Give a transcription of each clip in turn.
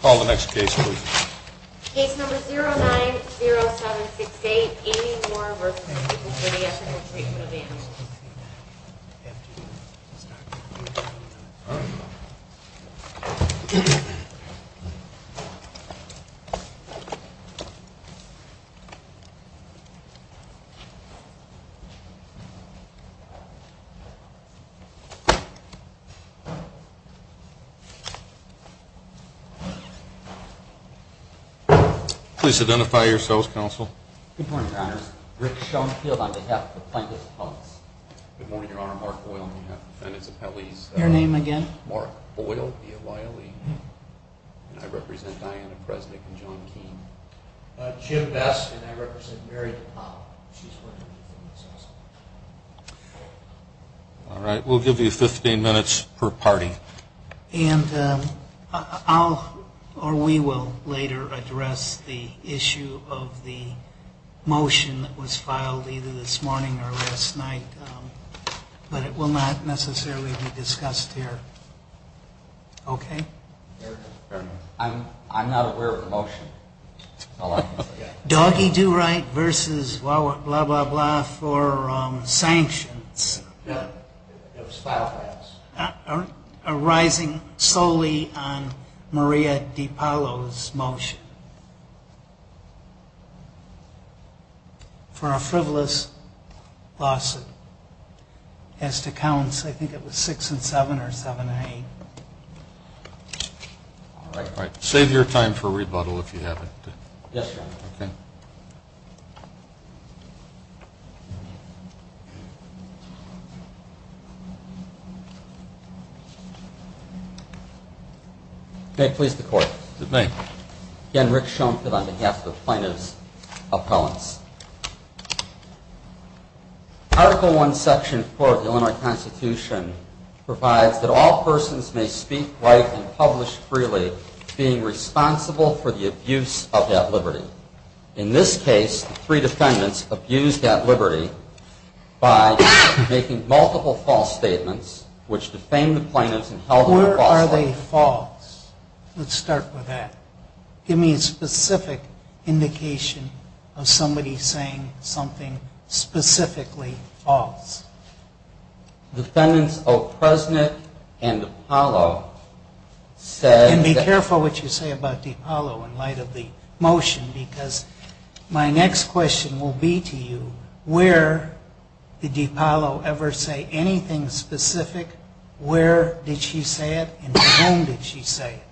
Call the next case please. Case number 090768, Amy Moore v. The People for the Ethical Treatment of Animals. Please identify yourselves, Counsel. Good morning, Your Honors. Rick Schoenfield on behalf of the Plaintiffs' Appellees. Good morning, Your Honor. Mark Boyle on behalf of the Plaintiffs' Appellees. Your name again? Mark Boyle v. O'Leary, and I represent Diana Presnick and John Keene. Jim Best, and I represent Mary DePauw. She's with the Plaintiffs' Appellees also. All right. We'll give you 15 minutes per party. And I'll, or we will, later address the issue of the motion that was filed either this morning or last night, but it will not necessarily be discussed here. Okay? I'm not aware of the motion. Doggy do right versus blah, blah, blah for sanctions. It was filed by us. Arising solely on Maria DePaulo's motion for a frivolous lawsuit. As to counts, I think it was 6-7 or 7-8. All right. Save your time for rebuttal if you have it. Yes, Your Honor. Okay. May it please the Court? It may. Again, Rick Schoenfeld on behalf of the Plaintiffs' Appellants. Article I, Section 4 of the Illinois Constitution provides that all persons may speak, write, and publish freely being responsible for the abuse of that liberty. In this case, the three defendants abused that liberty by making multiple false statements, which defamed the plaintiffs and held them falsely. Where are they false? Let's start with that. Give me a specific indication of somebody saying something specifically false. Defendants O'Presnick and DePaulo said that... And be careful what you say about DePaulo in light of the motion, because my next question will be to you, where did DePaulo ever say anything specific? Where did she say it and to whom did she say it?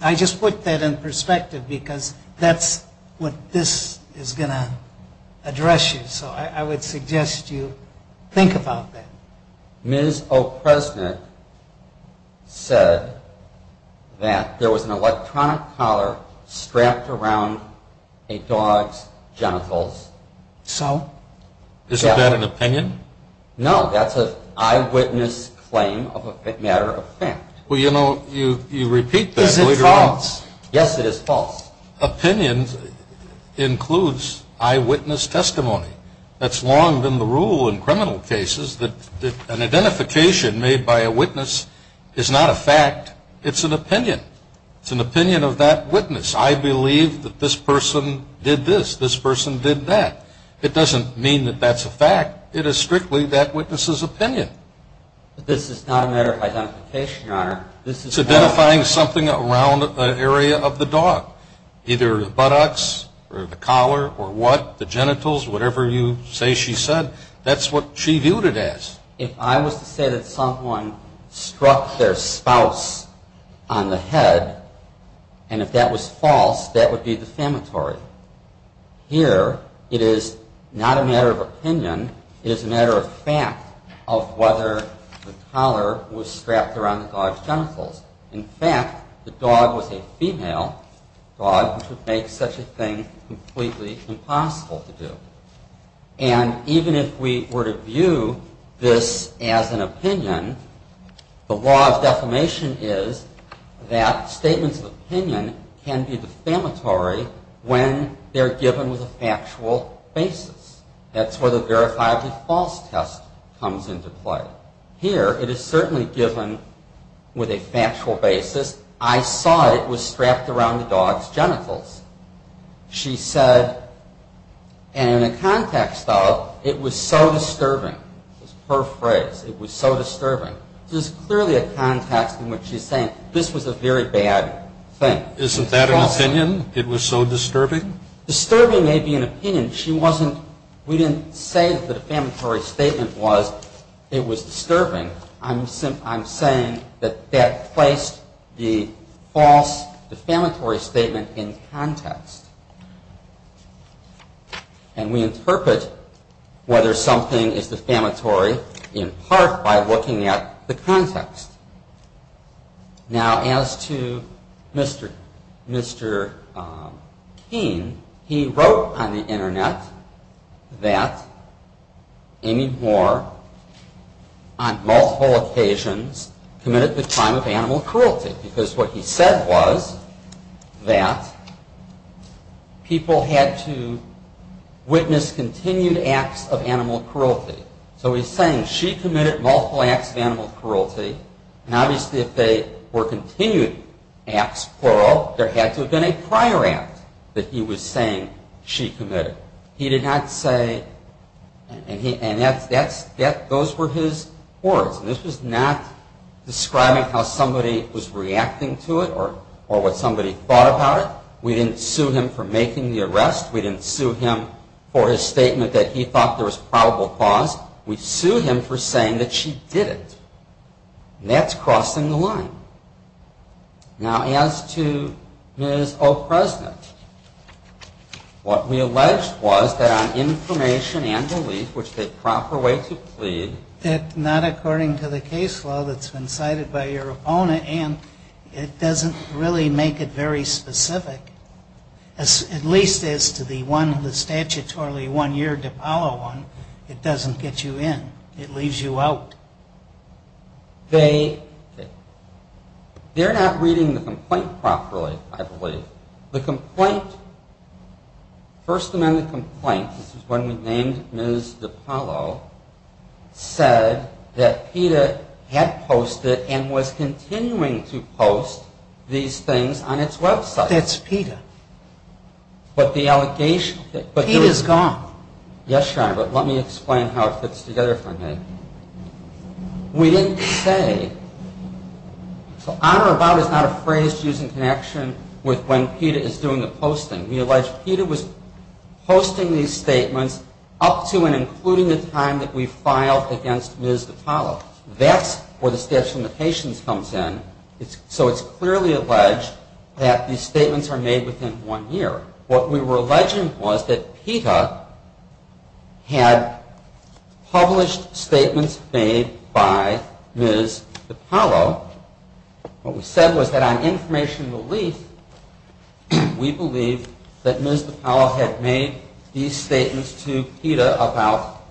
I just put that in perspective because that's what this is going to address you. So I would suggest you think about that. Ms. O'Presnick said that there was an electronic collar strapped around a dog's genitals. So? Isn't that an opinion? No, that's an eyewitness claim of a matter of fact. Well, you know, you repeat that later on. Is it false? Yes, it is false. Opinions includes eyewitness testimony. That's long been the rule in criminal cases that an identification made by a witness is not a fact. It's an opinion. It's an opinion of that witness. I believe that this person did this, this person did that. It doesn't mean that that's a fact. It is strictly that witness's opinion. This is not a matter of identification, Your Honor. It's identifying something around an area of the dog, either the buttocks or the collar or what, the genitals, whatever you say she said. That's what she viewed it as. If I was to say that someone struck their spouse on the head, and if that was false, that would be defamatory. Here, it is not a matter of opinion. It is a matter of fact of whether the collar was strapped around the dog's genitals. In fact, the dog was a female dog, which would make such a thing completely impossible to do. And even if we were to view this as an opinion, the law of defamation is that statements of opinion can be defamatory when they're given with a factual basis. That's where the verifiably false test comes into play. Here, it is certainly given with a factual basis. I saw it was strapped around the dog's genitals. She said, and in the context of, it was so disturbing, her phrase, it was so disturbing. This is clearly a context in which she's saying this was a very bad thing. Isn't that an opinion? It was so disturbing? Disturbing may be an opinion. She wasn't, we didn't say the defamatory statement was, it was disturbing. I'm saying that that placed the false defamatory statement in context. And we interpret whether something is defamatory in part by looking at the context. Now, as to Mr. Keene, he wrote on the internet that Amy Moore, on multiple occasions, committed the crime of animal cruelty. Because what he said was that people had to witness continued acts of animal cruelty. So he's saying she committed multiple acts of animal cruelty. And obviously if they were continued acts, plural, there had to have been a prior act that he was saying she committed. He did not say, and those were his words. And this was not describing how somebody was reacting to it or what somebody thought about it. We didn't sue him for making the arrest. We didn't sue him for his statement that he thought there was probable cause. We sued him for saying that she didn't. And that's crossing the line. Now, as to Ms. O'President, what we alleged was that on information and belief, which the proper way to plead. That not according to the case law that's been cited by your opponent. And it doesn't really make it very specific. At least as to the one, the statutorily one-year DePaulo one, it doesn't get you in. It leaves you out. They're not reading the complaint properly, I believe. The complaint, first amendment complaint, this is when we named Ms. DePaulo, said that PETA had posted and was continuing to post these things on its website. That's PETA. But the allegation. PETA is gone. Yes, Your Honor, but let me explain how it fits together for a minute. We didn't say. So on or about is not a phrase to use in connection with when PETA is doing the posting. We allege PETA was posting these statements up to and including the time that we filed against Ms. DePaulo. That's where the statute of limitations comes in. So it's clearly alleged that these statements are made within one year. What we were alleging was that PETA had published statements made by Ms. DePaulo. What we said was that on information relief, we believe that Ms. DePaulo had made these statements to PETA about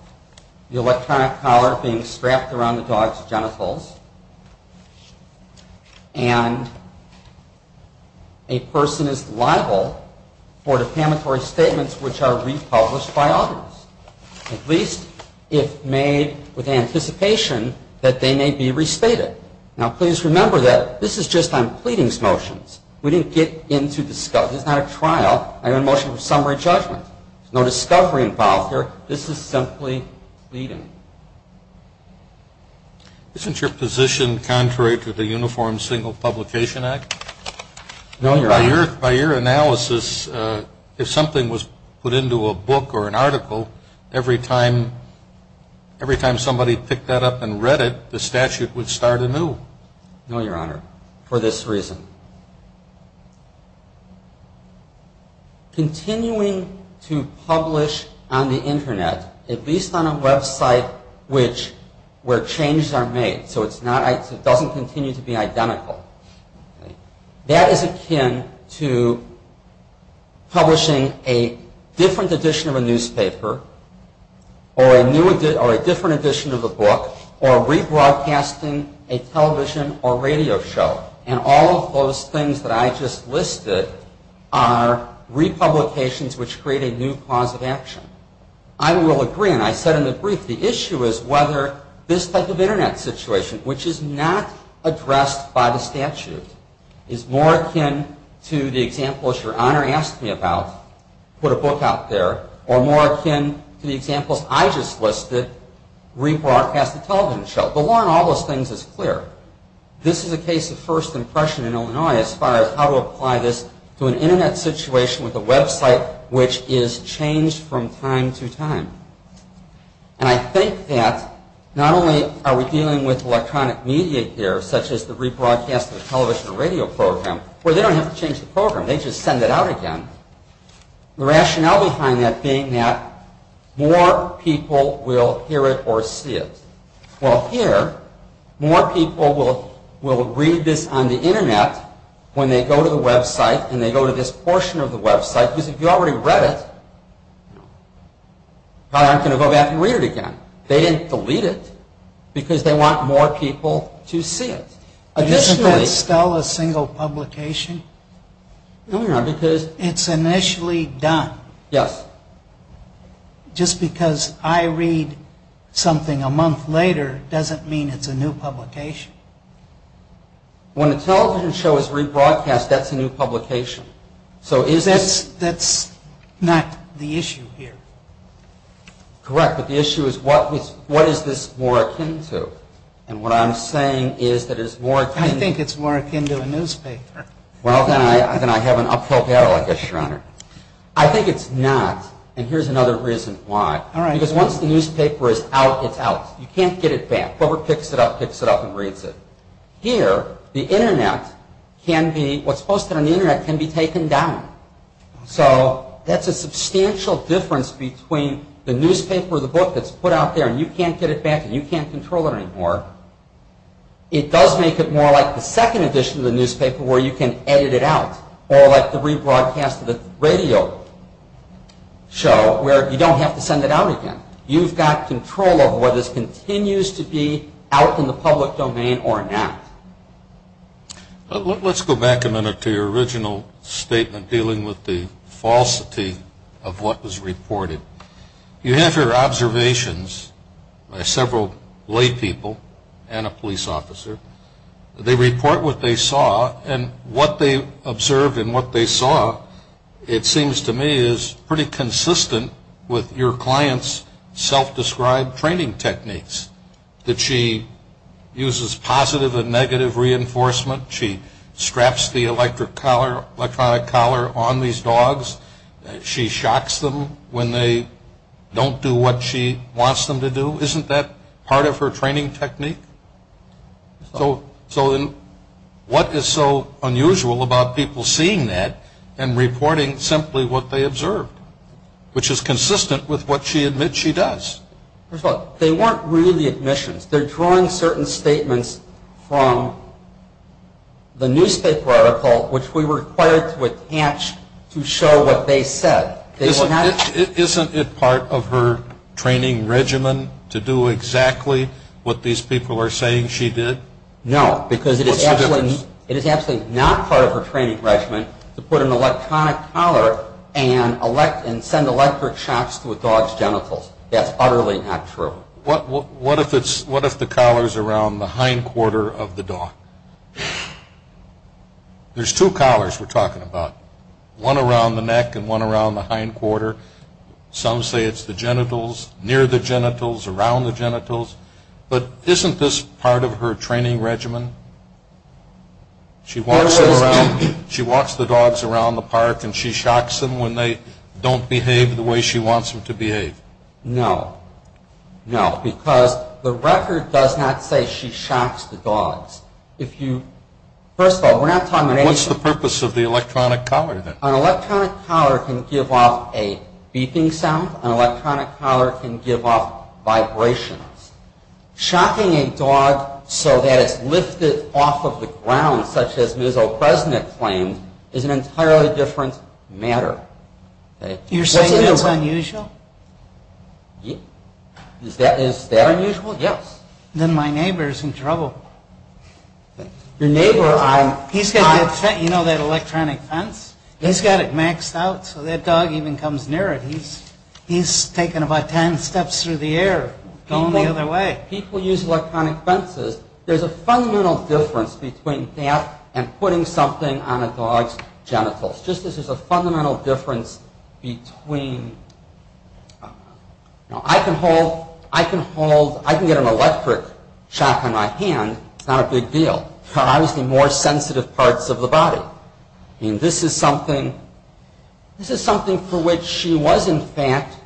the electronic collar being strapped around the dog's genitals. And a person is liable for defamatory statements which are republished by others. At least if made with anticipation that they may be restated. Now, please remember that this is just on pleadings motions. We didn't get into this. This is not a trial. I have a motion for summary judgment. There's no discovery involved here. This is simply pleading. Isn't your position contrary to the Uniform Single Publication Act? No, Your Honor. By your analysis, if something was put into a book or an article, every time somebody picked that up and read it, the statute would start anew. No, Your Honor. For this reason. Continuing to publish on the Internet, at least on a website where changes are made, so it doesn't continue to be identical, that is akin to publishing a different edition of a newspaper or a different edition of a book or rebroadcasting a television or radio show. And all of those things that I just listed are republications which create a new cause of action. I will agree, and I said in the brief, the issue is whether this type of Internet situation, which is not addressed by the statute, is more akin to the examples Your Honor asked me about, put a book out there, or more akin to the examples I just listed, rebroadcast a television show. The law on all those things is clear. This is a case of first impression in Illinois as far as how to apply this to an Internet situation with a website which is changed from time to time. And I think that not only are we dealing with electronic media here, such as the rebroadcast of a television or radio program, where they don't have to change the program. They just send it out again. The rationale behind that being that more people will hear it or see it. Well, here, more people will read this on the Internet when they go to the website and they go to this portion of the website. Because if you already read it, probably aren't going to go back and read it again. They didn't delete it because they want more people to see it. Is that still a single publication? It's initially done. Yes. Just because I read something a month later doesn't mean it's a new publication. When a television show is rebroadcast, that's a new publication. That's not the issue here. Correct, but the issue is what is this more akin to? I think it's more akin to a newspaper. Well, then I have an uphill battle, I guess, Your Honor. I think it's not, and here's another reason why. Because once the newspaper is out, it's out. You can't get it back. Whoever picks it up, picks it up and reads it. Here, what's posted on the Internet can be taken down. So that's a substantial difference between the newspaper or the book that's put out there and you can't get it back and you can't control it anymore. It does make it more like the second edition of the newspaper where you can edit it out or like the rebroadcast of the radio show where you don't have to send it out again. You've got control over whether this continues to be out in the public domain or not. Let's go back a minute to your original statement dealing with the falsity of what was reported. You have your observations by several lay people and a police officer. They report what they saw, and what they observed and what they saw, it seems to me, is pretty consistent with your client's self-described training techniques that she uses positive and negative reinforcement. She straps the electronic collar on these dogs. She shocks them when they don't do what she wants them to do. Isn't that part of her training technique? So what is so unusual about people seeing that and reporting simply what they observed, which is consistent with what she admits she does? First of all, they weren't really admissions. They're drawing certain statements from the newspaper article, which we were required to attach to show what they said. Isn't it part of her training regimen to do exactly what these people are saying she did? No, because it is absolutely not part of her training regimen to put an electronic collar and send electric shocks to a dog's genitals. That's utterly not true. What if the collar is around the hindquarter of the dog? There's two collars we're talking about, one around the neck and one around the hindquarter. Some say it's the genitals, near the genitals, around the genitals. But isn't this part of her training regimen? She walks the dogs around the park, and she shocks them when they don't behave the way she wants them to behave. No, no, because the record does not say she shocks the dogs. First of all, we're not talking about anything. What's the purpose of the electronic collar then? An electronic collar can give off a beeping sound. An electronic collar can give off vibrations. Shocking a dog so that it's lifted off of the ground, such as Ms. O'Presnick claimed, is an entirely different matter. You're saying that's unusual? Is that unusual? Yes. Then my neighbor's in trouble. Your neighbor? He's got that electronic fence. He's got it maxed out, so that dog even comes near it. He's taken about ten steps through the air, going the other way. People use electronic fences. There's a fundamental difference between that and putting something on a dog's genitals. Just as there's a fundamental difference between... Now, I can get an electric shock on my hand. It's not a big deal. But obviously more sensitive parts of the body. This is something for which she was, in fact,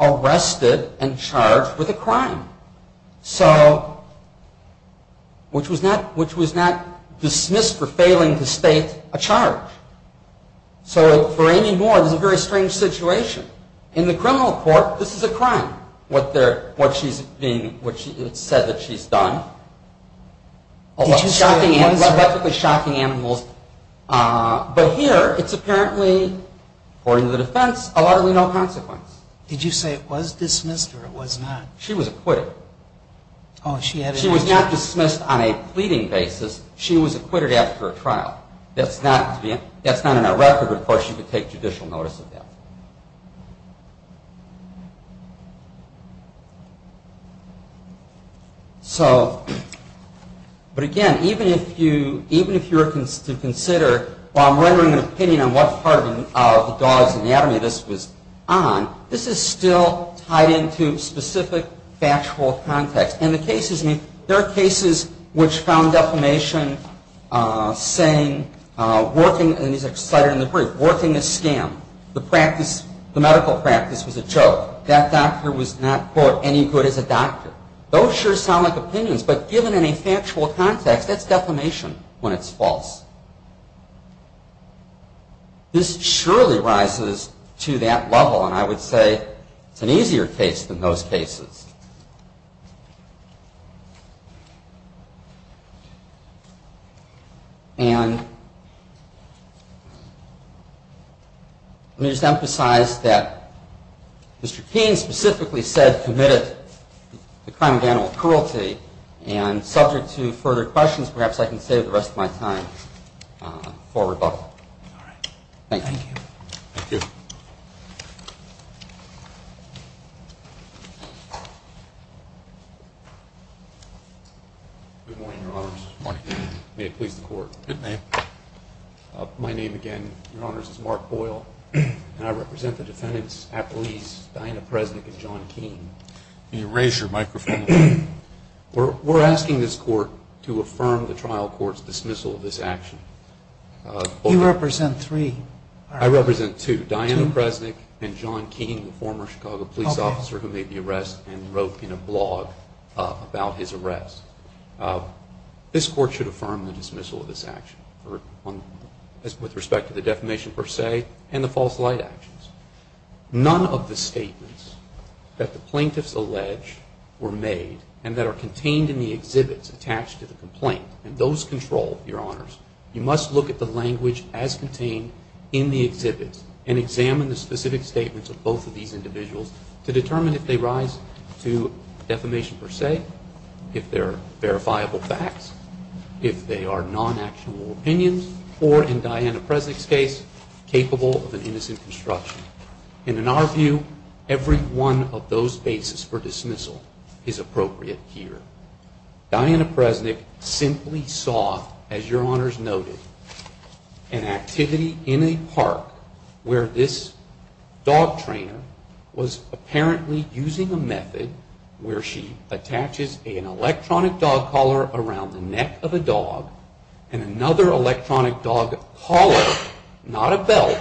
arrested and charged with a crime, which was not dismissed for failing to state a charge. So for Amy Moore, this is a very strange situation. In the criminal court, this is a crime, what she said that she's done. Electrically shocking animals. But here, it's apparently, according to the defense, a largely no consequence. Did you say it was dismissed or it was not? She was acquitted. She was not dismissed on a pleading basis. She was acquitted after a trial. That's not in our record. Of course, you could take judicial notice of that. But again, even if you were to consider, while I'm rendering an opinion on what part of the dog's anatomy this was on, this is still tied into specific factual context. There are cases which found defamation saying, and these are cited in the brief, working a scam. The medical practice was a joke. That doctor was not, quote, any good as a doctor. Those sure sound like opinions, but given any factual context, that's defamation when it's false. This surely rises to that level, and I would say it's an easier case than those cases. And let me just emphasize that Mr. Keene specifically said committed the crime of animal cruelty, and subject to further questions, perhaps I can save the rest of my time for rebuttal. Thank you. Thank you. Thank you. Good morning, Your Honors. Good morning. May it please the Court. Good name. My name, again, Your Honors, is Mark Boyle, and I represent the defendants, Apolise, Diana Presnick, and John Keene. Can you raise your microphone? We're asking this Court to affirm the trial court's dismissal of this action. You represent three. I represent two. Diana Presnick and John Keene, the former Chicago police officer who made the arrest and wrote in a blog about his arrest. This Court should affirm the dismissal of this action with respect to the defamation per se and the false light actions. None of the statements that the plaintiffs allege were made and that are contained in the exhibits attached to the complaint, and those control, Your Honors. You must look at the language as contained in the exhibits and examine the specific statements of both of these individuals to determine if they rise to defamation per se, if they're verifiable facts, if they are non-actionable opinions, or, in Diana Presnick's case, capable of an innocent construction. And in our view, every one of those bases for dismissal is appropriate here. Diana Presnick simply saw, as Your Honors noted, an activity in a park where this dog trainer was apparently using a method where she attaches an electronic dog collar around the neck of a dog and another electronic dog collar, not a belt,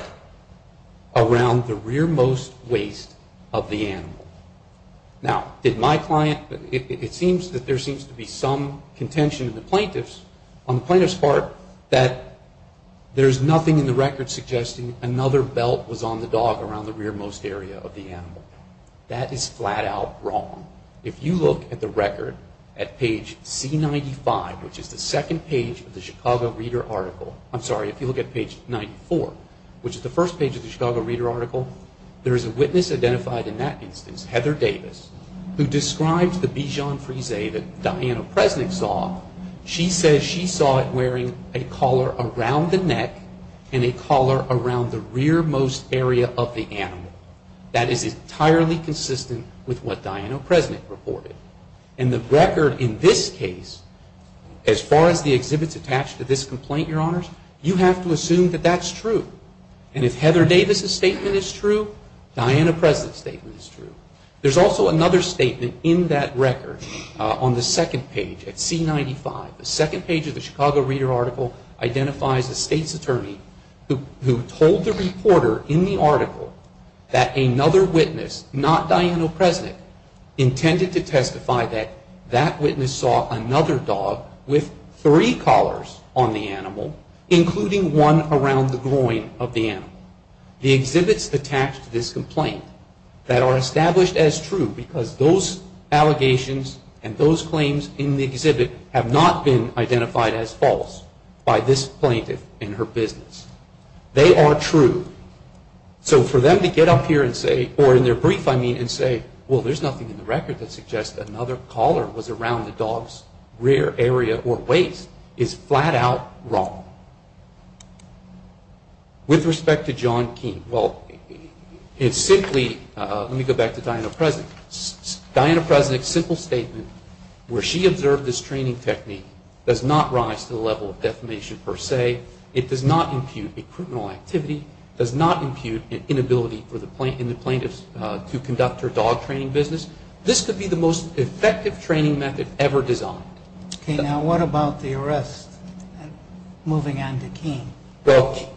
around the rearmost waist of the animal. Now, did my client, it seems that there seems to be some contention on the plaintiff's part that there's nothing in the record suggesting another belt was on the dog around the rearmost area of the animal. That is flat out wrong. If you look at the record at page C95, which is the second page of the Chicago Reader article, I'm sorry, if you look at page 94, which is the first page of the Chicago Reader article, there is a witness identified in that instance, Heather Davis, who describes the Bichon Frise that Diana Presnick saw. She says she saw it wearing a collar around the neck and a collar around the rearmost area of the animal. That is entirely consistent with what Diana Presnick reported. And the record in this case, as far as the exhibits attached to this complaint, Your Honors, you have to assume that that's true. And if Heather Davis' statement is true, Diana Presnick's statement is true. There's also another statement in that record on the second page at C95. The second page of the Chicago Reader article identifies the state's attorney who told the reporter in the article that another witness, not Diana Presnick, intended to testify that that witness saw another dog with three collars on the animal, including one around the groin of the animal. The exhibits attached to this complaint that are established as true, because those allegations and those claims in the exhibit have not been identified as false by this plaintiff in her business. They are true. So for them to get up here and say, or in their brief, I mean, and say, well, there's nothing in the record that suggests that another collar was around the dog's rear area or waist is flat out wrong. With respect to John Keene, well, it's simply, let me go back to Diana Presnick. Diana Presnick's simple statement where she observed this training technique does not rise to the level of defamation per se. It does not impute a criminal activity, does not impute an inability in the plaintiff to conduct her dog training business. This could be the most effective training method ever designed. Okay. Now what about the arrest? Moving on to Keene. Well,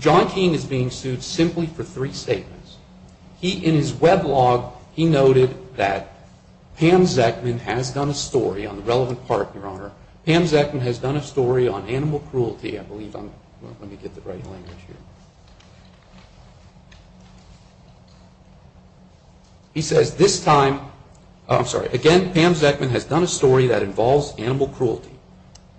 John Keene is being sued simply for three statements. He, in his weblog, he noted that Pam Zeckman has done a story on the relevant part, Your Honor. Pam Zeckman has done a story on animal cruelty, I believe. Let me get the right language here. He says, this time, I'm sorry, again, Pam Zeckman has done a story that involves animal cruelty.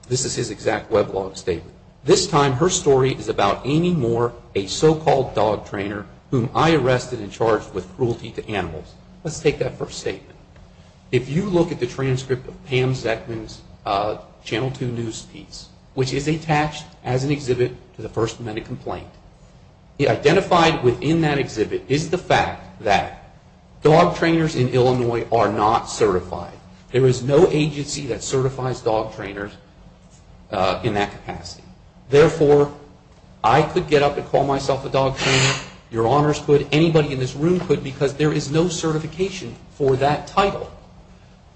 This is his exact weblog statement. This time her story is about Amy Moore, a so-called dog trainer, whom I arrested and charged with cruelty to animals. Let's take that first statement. If you look at the transcript of Pam Zeckman's Channel 2 news piece, which is attached as an exhibit to the first amendment complaint, identified within that exhibit is the fact that dog trainers in Illinois are not certified. There is no agency that certifies dog trainers in that capacity. Therefore, I could get up and call myself a dog trainer, Your Honors could, anybody in this room could, because there is no certification for that title.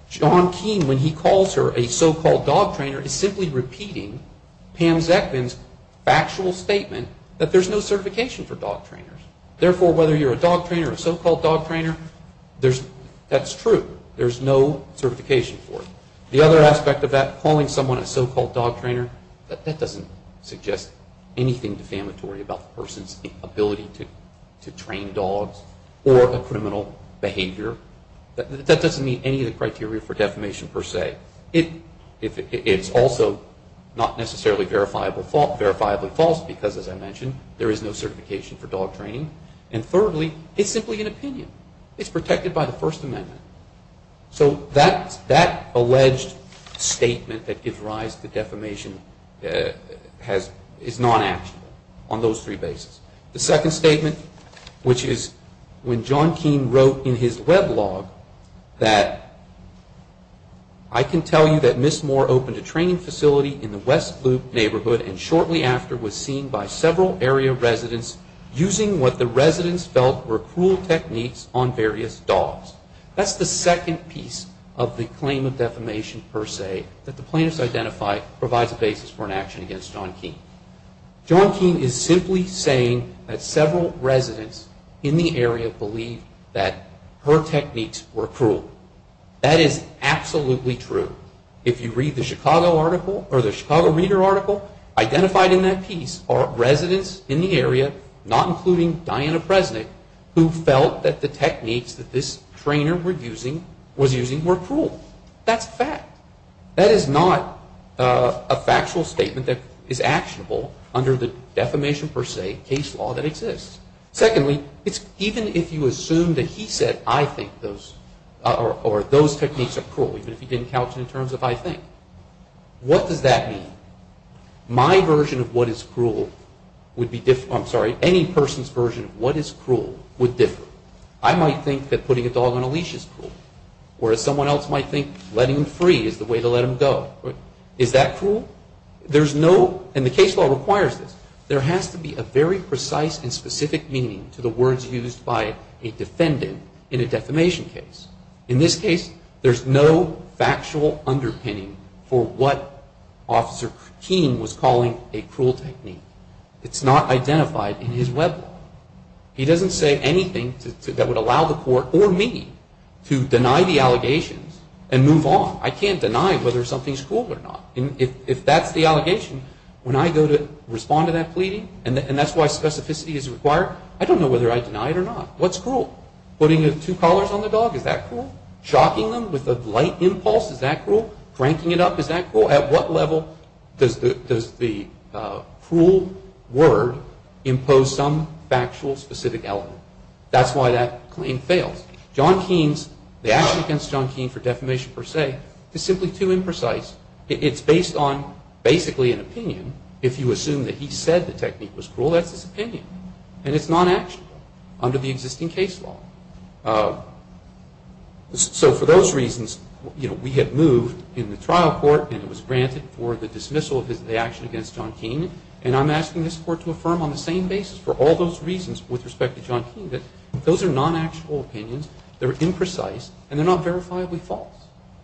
John Keene, when he calls her a so-called dog trainer, is simply repeating Pam Zeckman's factual statement that there's no certification for dog trainers. Therefore, whether you're a dog trainer or a so-called dog trainer, that's true. There's no certification for it. The other aspect of that, calling someone a so-called dog trainer, that doesn't suggest anything defamatory about the person's ability to train dogs or a criminal behavior. That doesn't meet any of the criteria for defamation per se. It's also not necessarily verifiably false because, as I mentioned, there is no certification for dog training. And thirdly, it's simply an opinion. It's protected by the first amendment. So that alleged statement that gives rise to defamation is non-actionable on those three bases. The second statement, which is when John Keene wrote in his weblog that, I can tell you that Ms. Moore opened a training facility in the West Loop neighborhood and shortly after was seen by several area residents using what the residents felt were cruel techniques on various dogs. That's the second piece of the claim of defamation per se that the plaintiffs identify provides a basis for an action against John Keene. John Keene is simply saying that several residents in the area believed that her techniques were cruel. That is absolutely true. If you read the Chicago article or the Chicago Reader article, identified in that piece are residents in the area, not including Diana Presnick, who felt that the techniques that this trainer was using were cruel. That's a fact. That is not a factual statement that is actionable under the defamation per se case law that exists. Secondly, even if you assume that he said, I think those, or those techniques are cruel, even if he didn't couch it in terms of I think, what does that mean? My version of what is cruel would be, I'm sorry, any person's version of what is cruel would differ. I might think that putting a dog on a leash is cruel. Or someone else might think letting him free is the way to let him go. Is that cruel? There's no, and the case law requires this. There has to be a very precise and specific meaning to the words used by a defendant in a defamation case. In this case, there's no factual underpinning for what Officer Keene was calling a cruel technique. It's not identified in his web law. He doesn't say anything that would allow the court, or me, to deny the allegations and move on. I can't deny whether something's cruel or not. If that's the allegation, when I go to respond to that pleading, and that's why specificity is required, I don't know whether I deny it or not. What's cruel? Putting two collars on the dog, is that cruel? Shocking them with a light impulse, is that cruel? Cranking it up, is that cruel? At what level does the cruel word impose some factual specific element? That's why that claim fails. John Keene's, the action against John Keene for defamation per se, is simply too imprecise. It's based on basically an opinion. If you assume that he said the technique was cruel, that's his opinion. And it's non-actionable under the existing case law. So for those reasons, we had moved in the trial court, and it was granted for the dismissal of the action against John Keene. And I'm asking this court to affirm on the same basis, for all those reasons with respect to John Keene, that those are non-actual opinions, they're imprecise, and they're not verifiably false.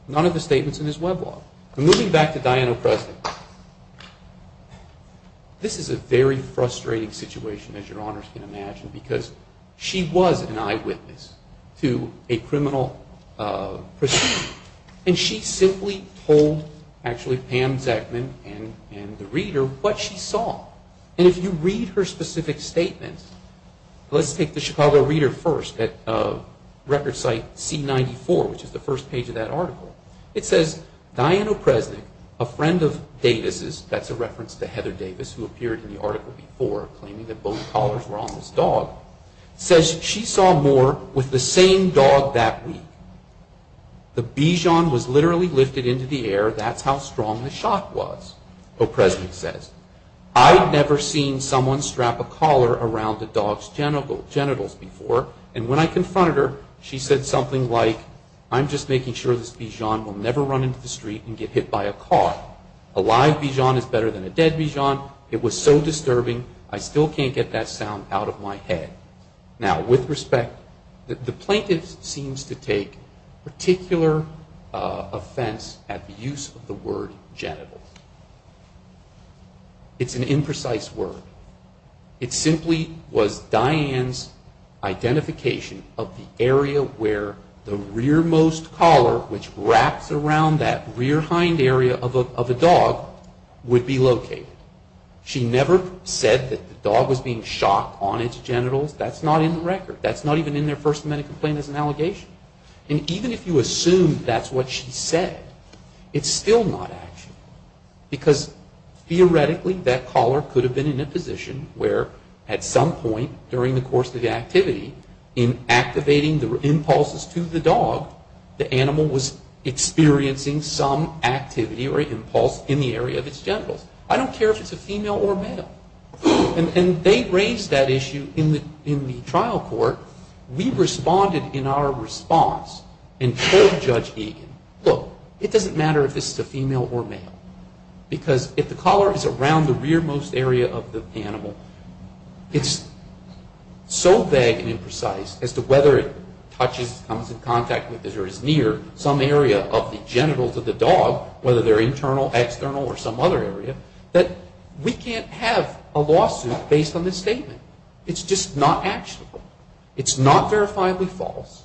None of the statements in his web law. Moving back to Diana O'Kresnik. This is a very frustrating situation, as your honors can imagine, because she was an eyewitness to a criminal proceeding. And she simply told Pam Zeckman and the reader what she saw. And if you read her specific statement, let's take the Chicago Reader first, at record site C94, which is the first page of that article. It says, Diana O'Kresnik, a friend of Davis', that's a reference to Heather Davis, who appeared in the article before, claiming that both collars were on this dog, says she saw Moore with the same dog that week. The Bichon was literally lifted into the air, that's how strong the shot was, O'Kresnik says. I'd never seen someone strap a collar around a dog's genitals before, and when I confronted her, she said something like, I'm just making sure this Bichon will never run into the street and get hit by a car. A live Bichon is better than a dead Bichon. It was so disturbing, I still can't get that sound out of my head. Now, with respect, the plaintiff seems to take particular offense at the use of the word genital. It's an imprecise word. It simply was Diane's identification of the area where the rearmost collar, which wraps around that rear hind area of a dog, would be located. She never said that the dog was being shot on its genitals, that's not in the record. That's not even in their First Amendment complaint as an allegation. And even if you assume that's what she said, it's still not actually. Because theoretically, that collar could have been in a position where, at some point during the course of the activity, in activating the impulses to the dog, the animal was experiencing some activity or impulse in the area of its genitals. I don't care if it's a female or male. And they raised that issue in the trial court. We responded in our response and told Judge Egan, look, it doesn't matter if this is a female or male. Because if the collar is around the rearmost area of the animal, it's so vague and imprecise as to whether it touches, comes in contact with, or is near some area of the genitals of the dog, whether they're internal, external, or some other area, that we can't have a lawsuit based on this statement. It's just not actual. It's not verifiably false.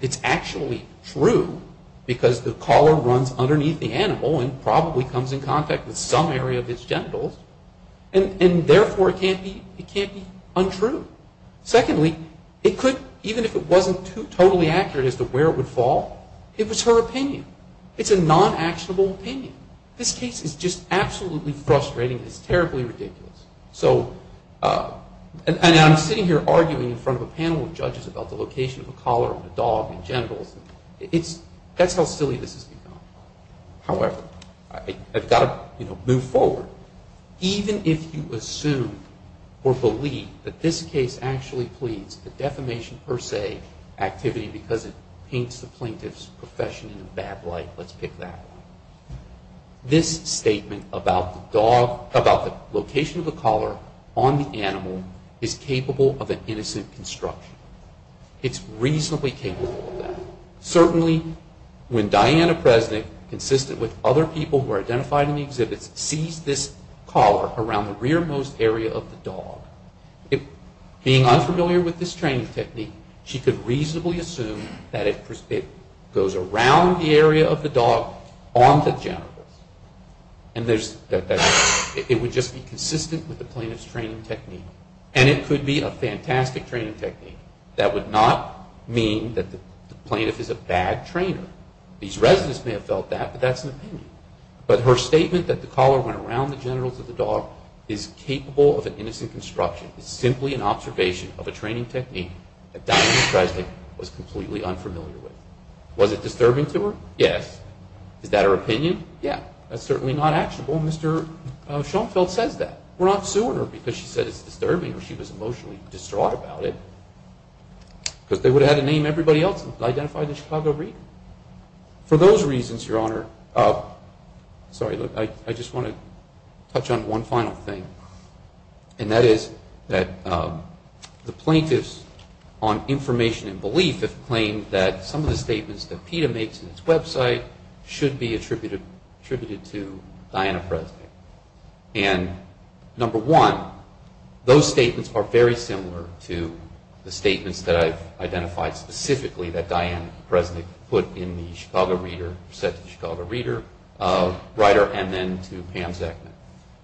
It's actually true because the collar runs underneath the animal and probably comes in contact with some area of its genitals. And therefore, it can't be untrue. Secondly, it could, even if it wasn't totally accurate as to where it would fall, it was her opinion. It's a non-actionable opinion. This case is just absolutely frustrating. It's terribly ridiculous. And I'm sitting here arguing in front of a panel of judges about the location of the collar on the dog and genitals. That's how silly this has become. However, I've got to move forward. Even if you assume or believe that this case actually pleads a defamation per se activity because it paints the plaintiff's profession in a bad light, let's pick that one, this statement about the location of the collar on the animal is capable of an innocent construction. It's reasonably capable of that. Certainly, when Diana Presnick, consistent with other people who are identified in the exhibits, sees this collar around the rearmost area of the dog, being unfamiliar with this training technique, she could reasonably assume that it goes around the area of the dog onto the genitals. And it would just be consistent with the plaintiff's training technique. And it could be a fantastic training technique. That would not mean that the plaintiff is a bad trainer. These residents may have felt that, but that's an opinion. But her statement that the collar went around the genitals of the dog is capable of an innocent construction. It's simply an observation of a training technique that Diana Presnick was completely unfamiliar with. Was it disturbing to her? Yes. Is that her opinion? Yeah. That's certainly not actionable. Mr. Schoenfeld says that. We're not suing her because she said it's disturbing or she was emotionally distraught about it. Because they would have had to name everybody else that was identified in the Chicago Reader. For those reasons, Your Honor, sorry, I just want to touch on one final thing. And that is that the plaintiffs on information and belief have claimed that some of the statements that PETA makes in its website should be attributed to Diana Presnick. And, number one, those statements are very similar to the statements that I've identified specifically that Diana Presnick put in the Chicago Reader, said to the Chicago Reader writer, and then to Pam Zeckman.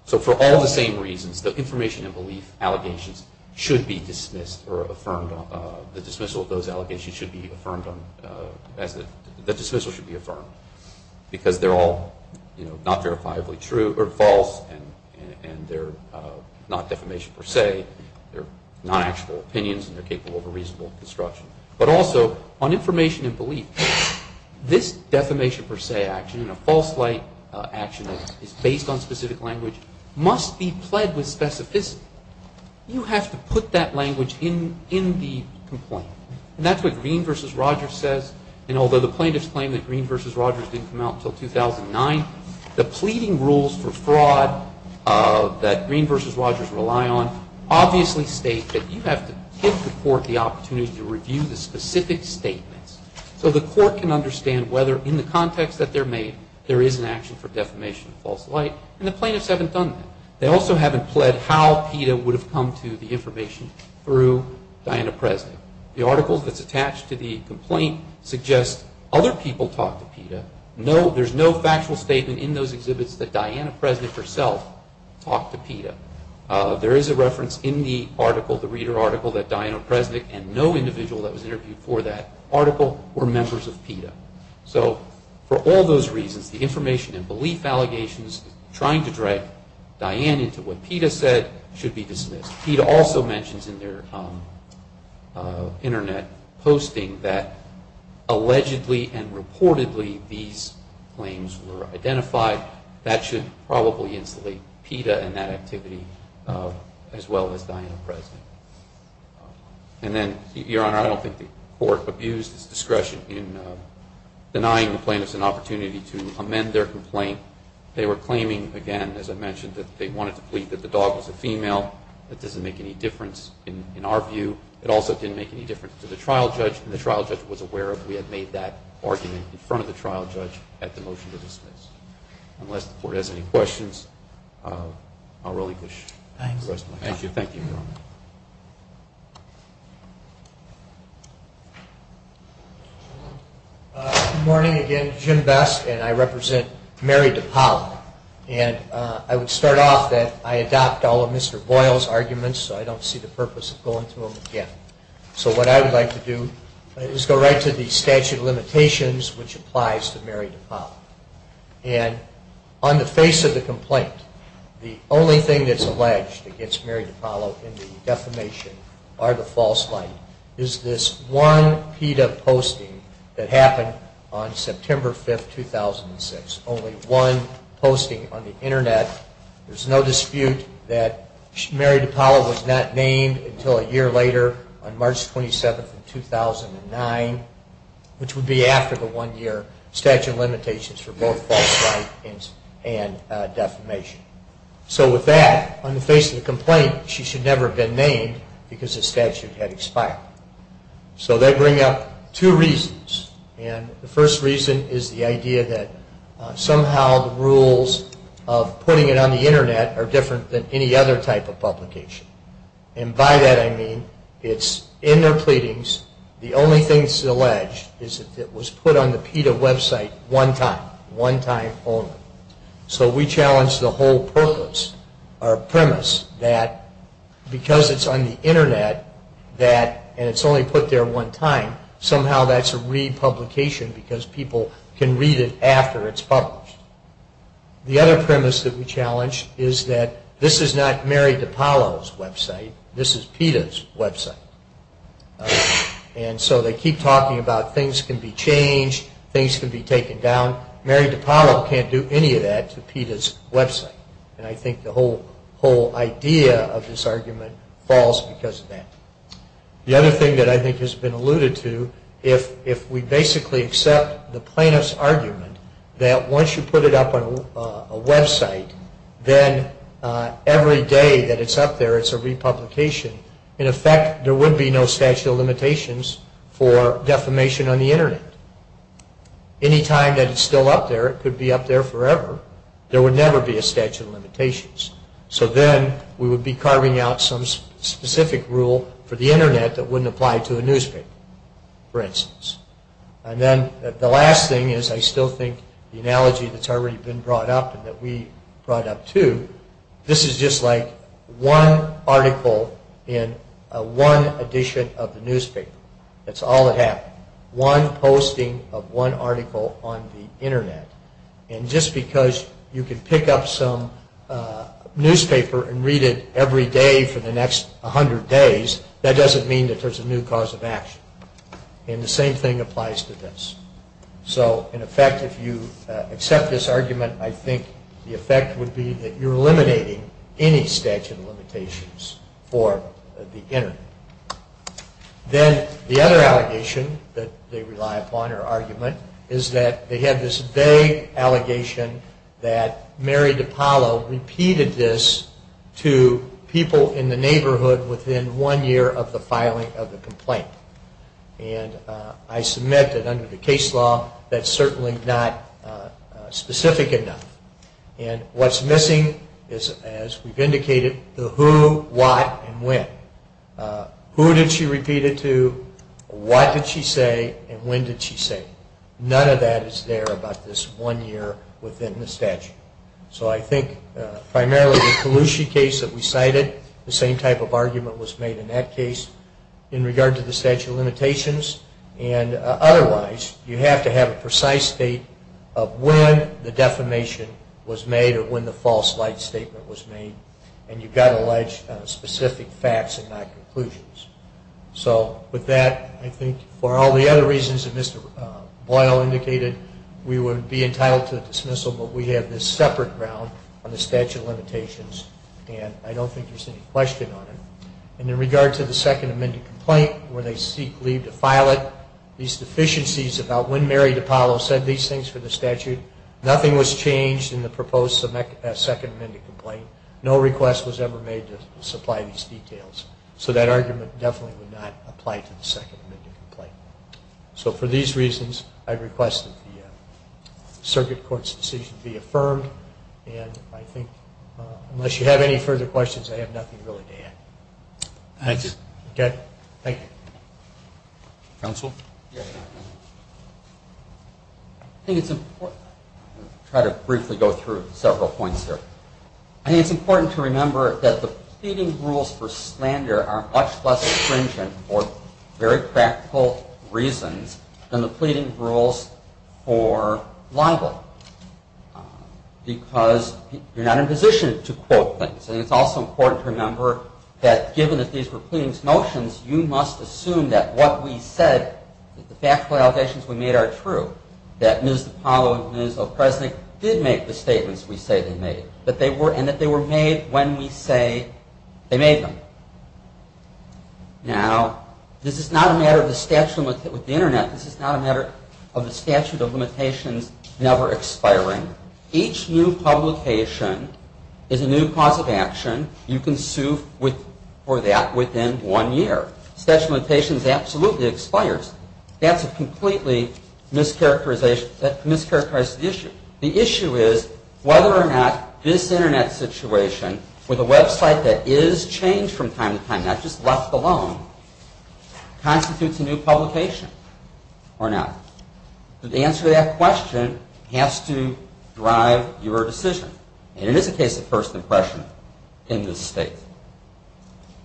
So for all the same reasons, the information and belief allegations should be dismissed or affirmed, the dismissal of those allegations should be affirmed, the dismissal should be affirmed. Because they're all, you know, not verifiably true or false and they're not defamation per se. They're not actual opinions and they're capable of a reasonable construction. But also on information and belief, this defamation per se action and a false light action that is based on specific language must be pled with specificity. You have to put that language in the complaint. And that's what Green v. Rogers says. And although the plaintiffs claim that Green v. Rogers didn't come out until 2009, the pleading rules for fraud that Green v. Rogers rely on, obviously state that you have to give the court the opportunity to review the specific statements so the court can understand whether in the context that they're made, there is an action for defamation and false light. And the plaintiffs haven't done that. They also haven't pled how PETA would have come to the information through Diana Presnick. The article that's attached to the complaint suggests other people talked to PETA. There's no factual statement in those exhibits that Diana Presnick herself talked to PETA. There is a reference in the article, the reader article, that Diana Presnick and no individual that was interviewed for that article were members of PETA. So for all those reasons, the information and belief allegations trying to drag Diana into what PETA said should be dismissed. PETA also mentions in their internet posting that allegedly and reportedly these claims were identified. That should probably insulate PETA and that activity as well as Diana Presnick. And then, Your Honor, I don't think the court abused its discretion in denying the plaintiffs an opportunity to amend their complaint. They were claiming, again, as I mentioned, that they wanted to plead that the dog was a female. That doesn't make any difference in our view. It also didn't make any difference to the trial judge. And the trial judge was aware of we had made that argument in front of the trial judge at the motion to dismiss. Unless the court has any questions, I'll relinquish the rest of my time. Thank you. Thank you, Your Honor. Good morning again. Jim Besk, and I represent Mary DePaule. And I would start off that I adopt all of Mr. Boyle's arguments so I don't see the purpose of going through them again. So what I would like to do is go right to the statute of limitations, which applies to Mary DePaule. And on the face of the complaint, the only thing that's alleged against Mary DePaule in the defamation are the false light is this one PETA posting that happened on September 5, 2006. There's only one posting on the Internet. There's no dispute that Mary DePaule was not named until a year later, on March 27, 2009, which would be after the one year statute of limitations for both false light and defamation. So with that, on the face of the complaint, she should never have been named because the statute had expired. So that brings up two reasons. And the first reason is the idea that somehow the rules of putting it on the Internet are different than any other type of publication. And by that I mean it's in their pleadings. The only thing that's alleged is that it was put on the PETA website one time, one time only. So we challenge the whole purpose or premise that because it's on the Internet and it's only put there one time, somehow that's a republication because people can read it after it's published. The other premise that we challenge is that this is not Mary DePaule's website. This is PETA's website. And so they keep talking about things can be changed, things can be taken down. Mary DePaule can't do any of that to PETA's website. And I think the whole idea of this argument falls because of that. The other thing that I think has been alluded to, if we basically accept the plaintiff's argument that once you put it up on a website, then every day that it's up there it's a republication, in effect there would be no statute of limitations for defamation on the Internet. Any time that it's still up there, it could be up there forever. There would never be a statute of limitations. So then we would be carving out some specific rule for the Internet that wouldn't apply to a newspaper, for instance. And then the last thing is I still think the analogy that's already been brought up and that we brought up too, this is just like one article in one edition of the newspaper. That's all that happened. One posting of one article on the Internet. And just because you can pick up some newspaper and read it every day for the next 100 days, that doesn't mean that there's a new cause of action. And the same thing applies to this. So, in effect, if you accept this argument, I think the effect would be that you're eliminating any statute of limitations for the Internet. The problem is that they have this vague allegation that Mary DiPaolo repeated this to people in the neighborhood within one year of the filing of the complaint. And I submit that under the case law, that's certainly not specific enough. And what's missing is, as we've indicated, the who, what, and when. Who did she repeat it to? What did she say? And when did she say? None of that is there about this one year within the statute. So I think primarily the Kalushi case that we cited, the same type of argument was made in that case in regard to the statute of limitations. And otherwise, you have to have a precise date of when the defamation was made or when the false light statement was made. And you've got to allege specific facts and not conclusions. So with that, I think for all the other reasons that Mr. Boyle indicated, we would be entitled to dismissal, but we have this separate ground on the statute of limitations. And I don't think there's any question on it. And in regard to the Second Amendment complaint, where they seek leave to file it, these deficiencies about when Mary DiPaolo said these things for the statute, nothing was changed in the proposed Second Amendment complaint. No request was ever made to supply these details. So that argument definitely would not apply to the Second Amendment complaint. So for these reasons, I request that the circuit court's decision be affirmed. And I think unless you have any further questions, I have nothing really to add. Thank you. Thank you. Counsel? I think it's important to try to briefly go through several points here. I think it's important to remember that the pleading rules for slander are much less stringent for very practical reasons than the pleading rules for libel because you're not in a position to quote things. And it's also important to remember that given that these were pleadings motions, you must assume that what we said, that the factual allegations we made are true, that Ms. DiPaolo and Ms. Lopresnik did make the statements we say they made, and that they were made when we say they made them. Now, this is not a matter of the statute with the Internet. This is not a matter of the statute of limitations never expiring. Each new publication is a new cause of action. You can sue for that within one year. The statute of limitations absolutely expires. That's a completely mischaracterized issue. The issue is whether or not this Internet situation with a website that is changed from time to time, not just left alone, constitutes a new publication or not. The answer to that question has to drive your decision. And it is a case of first impression in this state.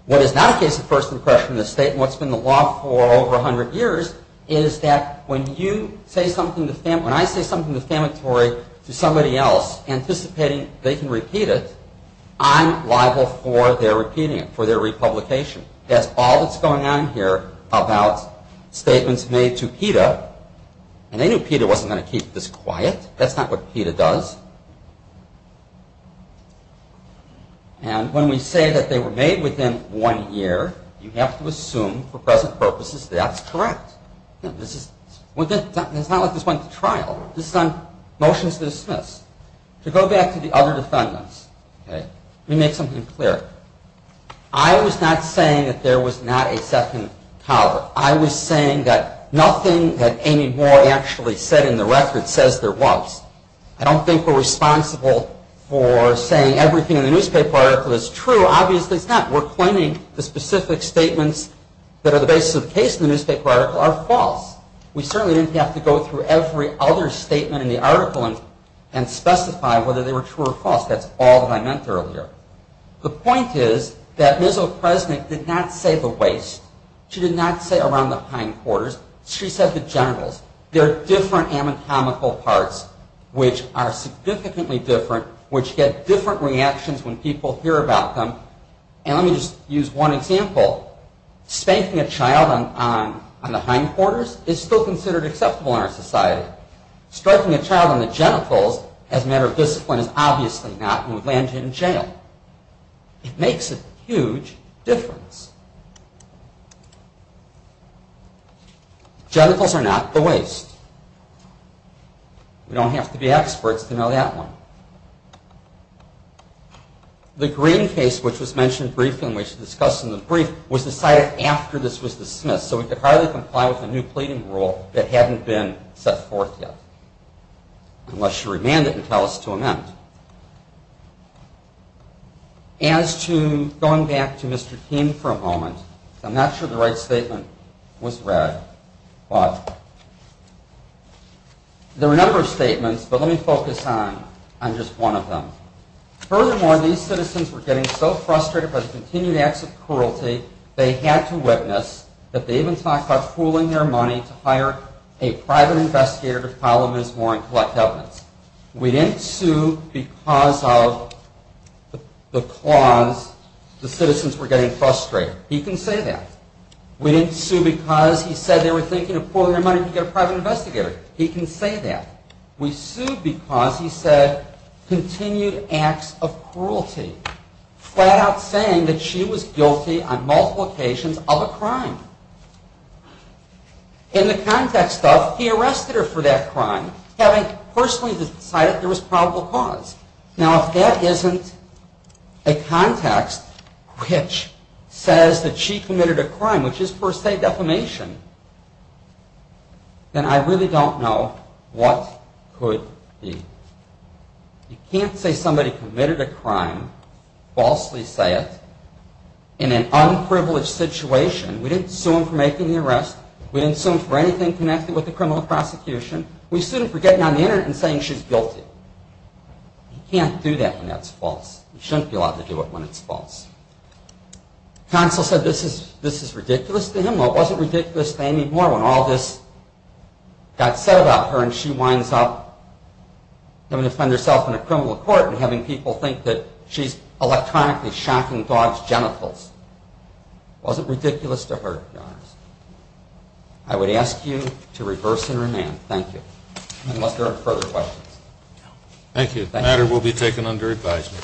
What is not a case of first impression in this state, and what's been the law for over 100 years, is that when you say something defamatory, when I say something defamatory to somebody else, anticipating they can repeat it, I'm liable for their repeating it, for their republication. That's all that's going on here about statements made to PETA. And they knew PETA wasn't going to keep this quiet. That's not what PETA does. And when we say that they were made within one year, you have to assume for present purposes that's correct. It's not like this went to trial. This is on motions to dismiss. To go back to the other defendants, let me make something clear. I was not saying that there was not a second cover. I was saying that nothing that Amy Moore actually said in the record says there was. I don't think we're responsible for saying everything in the newspaper article is true. Obviously it's not. We're claiming the specific statements that are the basis of the case in the newspaper article are false. We certainly didn't have to go through every other statement in the article and specify whether they were true or false. That's all that I meant earlier. The point is that Ms. O'Kresnik did not say the waste. She did not say around the pine quarters. She said the genitals. There are different anatomical parts which are significantly different, which get different reactions when people hear about them. Let me just use one example. Spanking a child on the pine quarters is still considered acceptable in our society. Striking a child on the genitals as a matter of discipline is obviously not and would land you in jail. It makes a huge difference. Genitals are not the waste. We don't have to be experts to know that one. The Green case, which was mentioned briefly and which was discussed in the brief, was decided after this was dismissed, so we could hardly comply with a new pleading rule that hadn't been set forth yet, unless you remand it and tell us to amend. As to going back to Mr. King for a moment, I'm not sure the right statement was read, but there were a number of statements, but let me focus on just one of them. Furthermore, these citizens were getting so frustrated by the continued acts of cruelty, they had to witness that they even talked about pooling their money to hire a private investigator to file a misdemeanor and collect evidence. We didn't sue because of the clause the citizens were getting frustrated. He can say that. We didn't sue because he said they were thinking of pooling their money to get a private investigator. He can say that. We sued because he said continued acts of cruelty, flat out saying that she was guilty on multiple occasions of a crime. In the context of he arrested her for that crime, having personally decided there was probable cause. Now, if that isn't a context which says that she committed a crime, which is per se defamation, then I really don't know what could be. You can't say somebody committed a crime, falsely say it, in an unprivileged situation. We didn't sue him for making the arrest. We didn't sue him for anything connected with the criminal prosecution. We sued him for getting on the internet and saying she's guilty. You can't do that when that's false. You shouldn't be allowed to do it when it's false. Counsel said this is ridiculous to him. Well, it wasn't ridiculous to Amy Moore when all this got said about her and she winds up having to defend herself in a criminal court and having people think that she's electronically shocking dogs' genitals. It wasn't ridiculous to her, to be honest. I would ask you to reverse and remand. Thank you. Unless there are further questions. Thank you. The matter will be taken under advisement.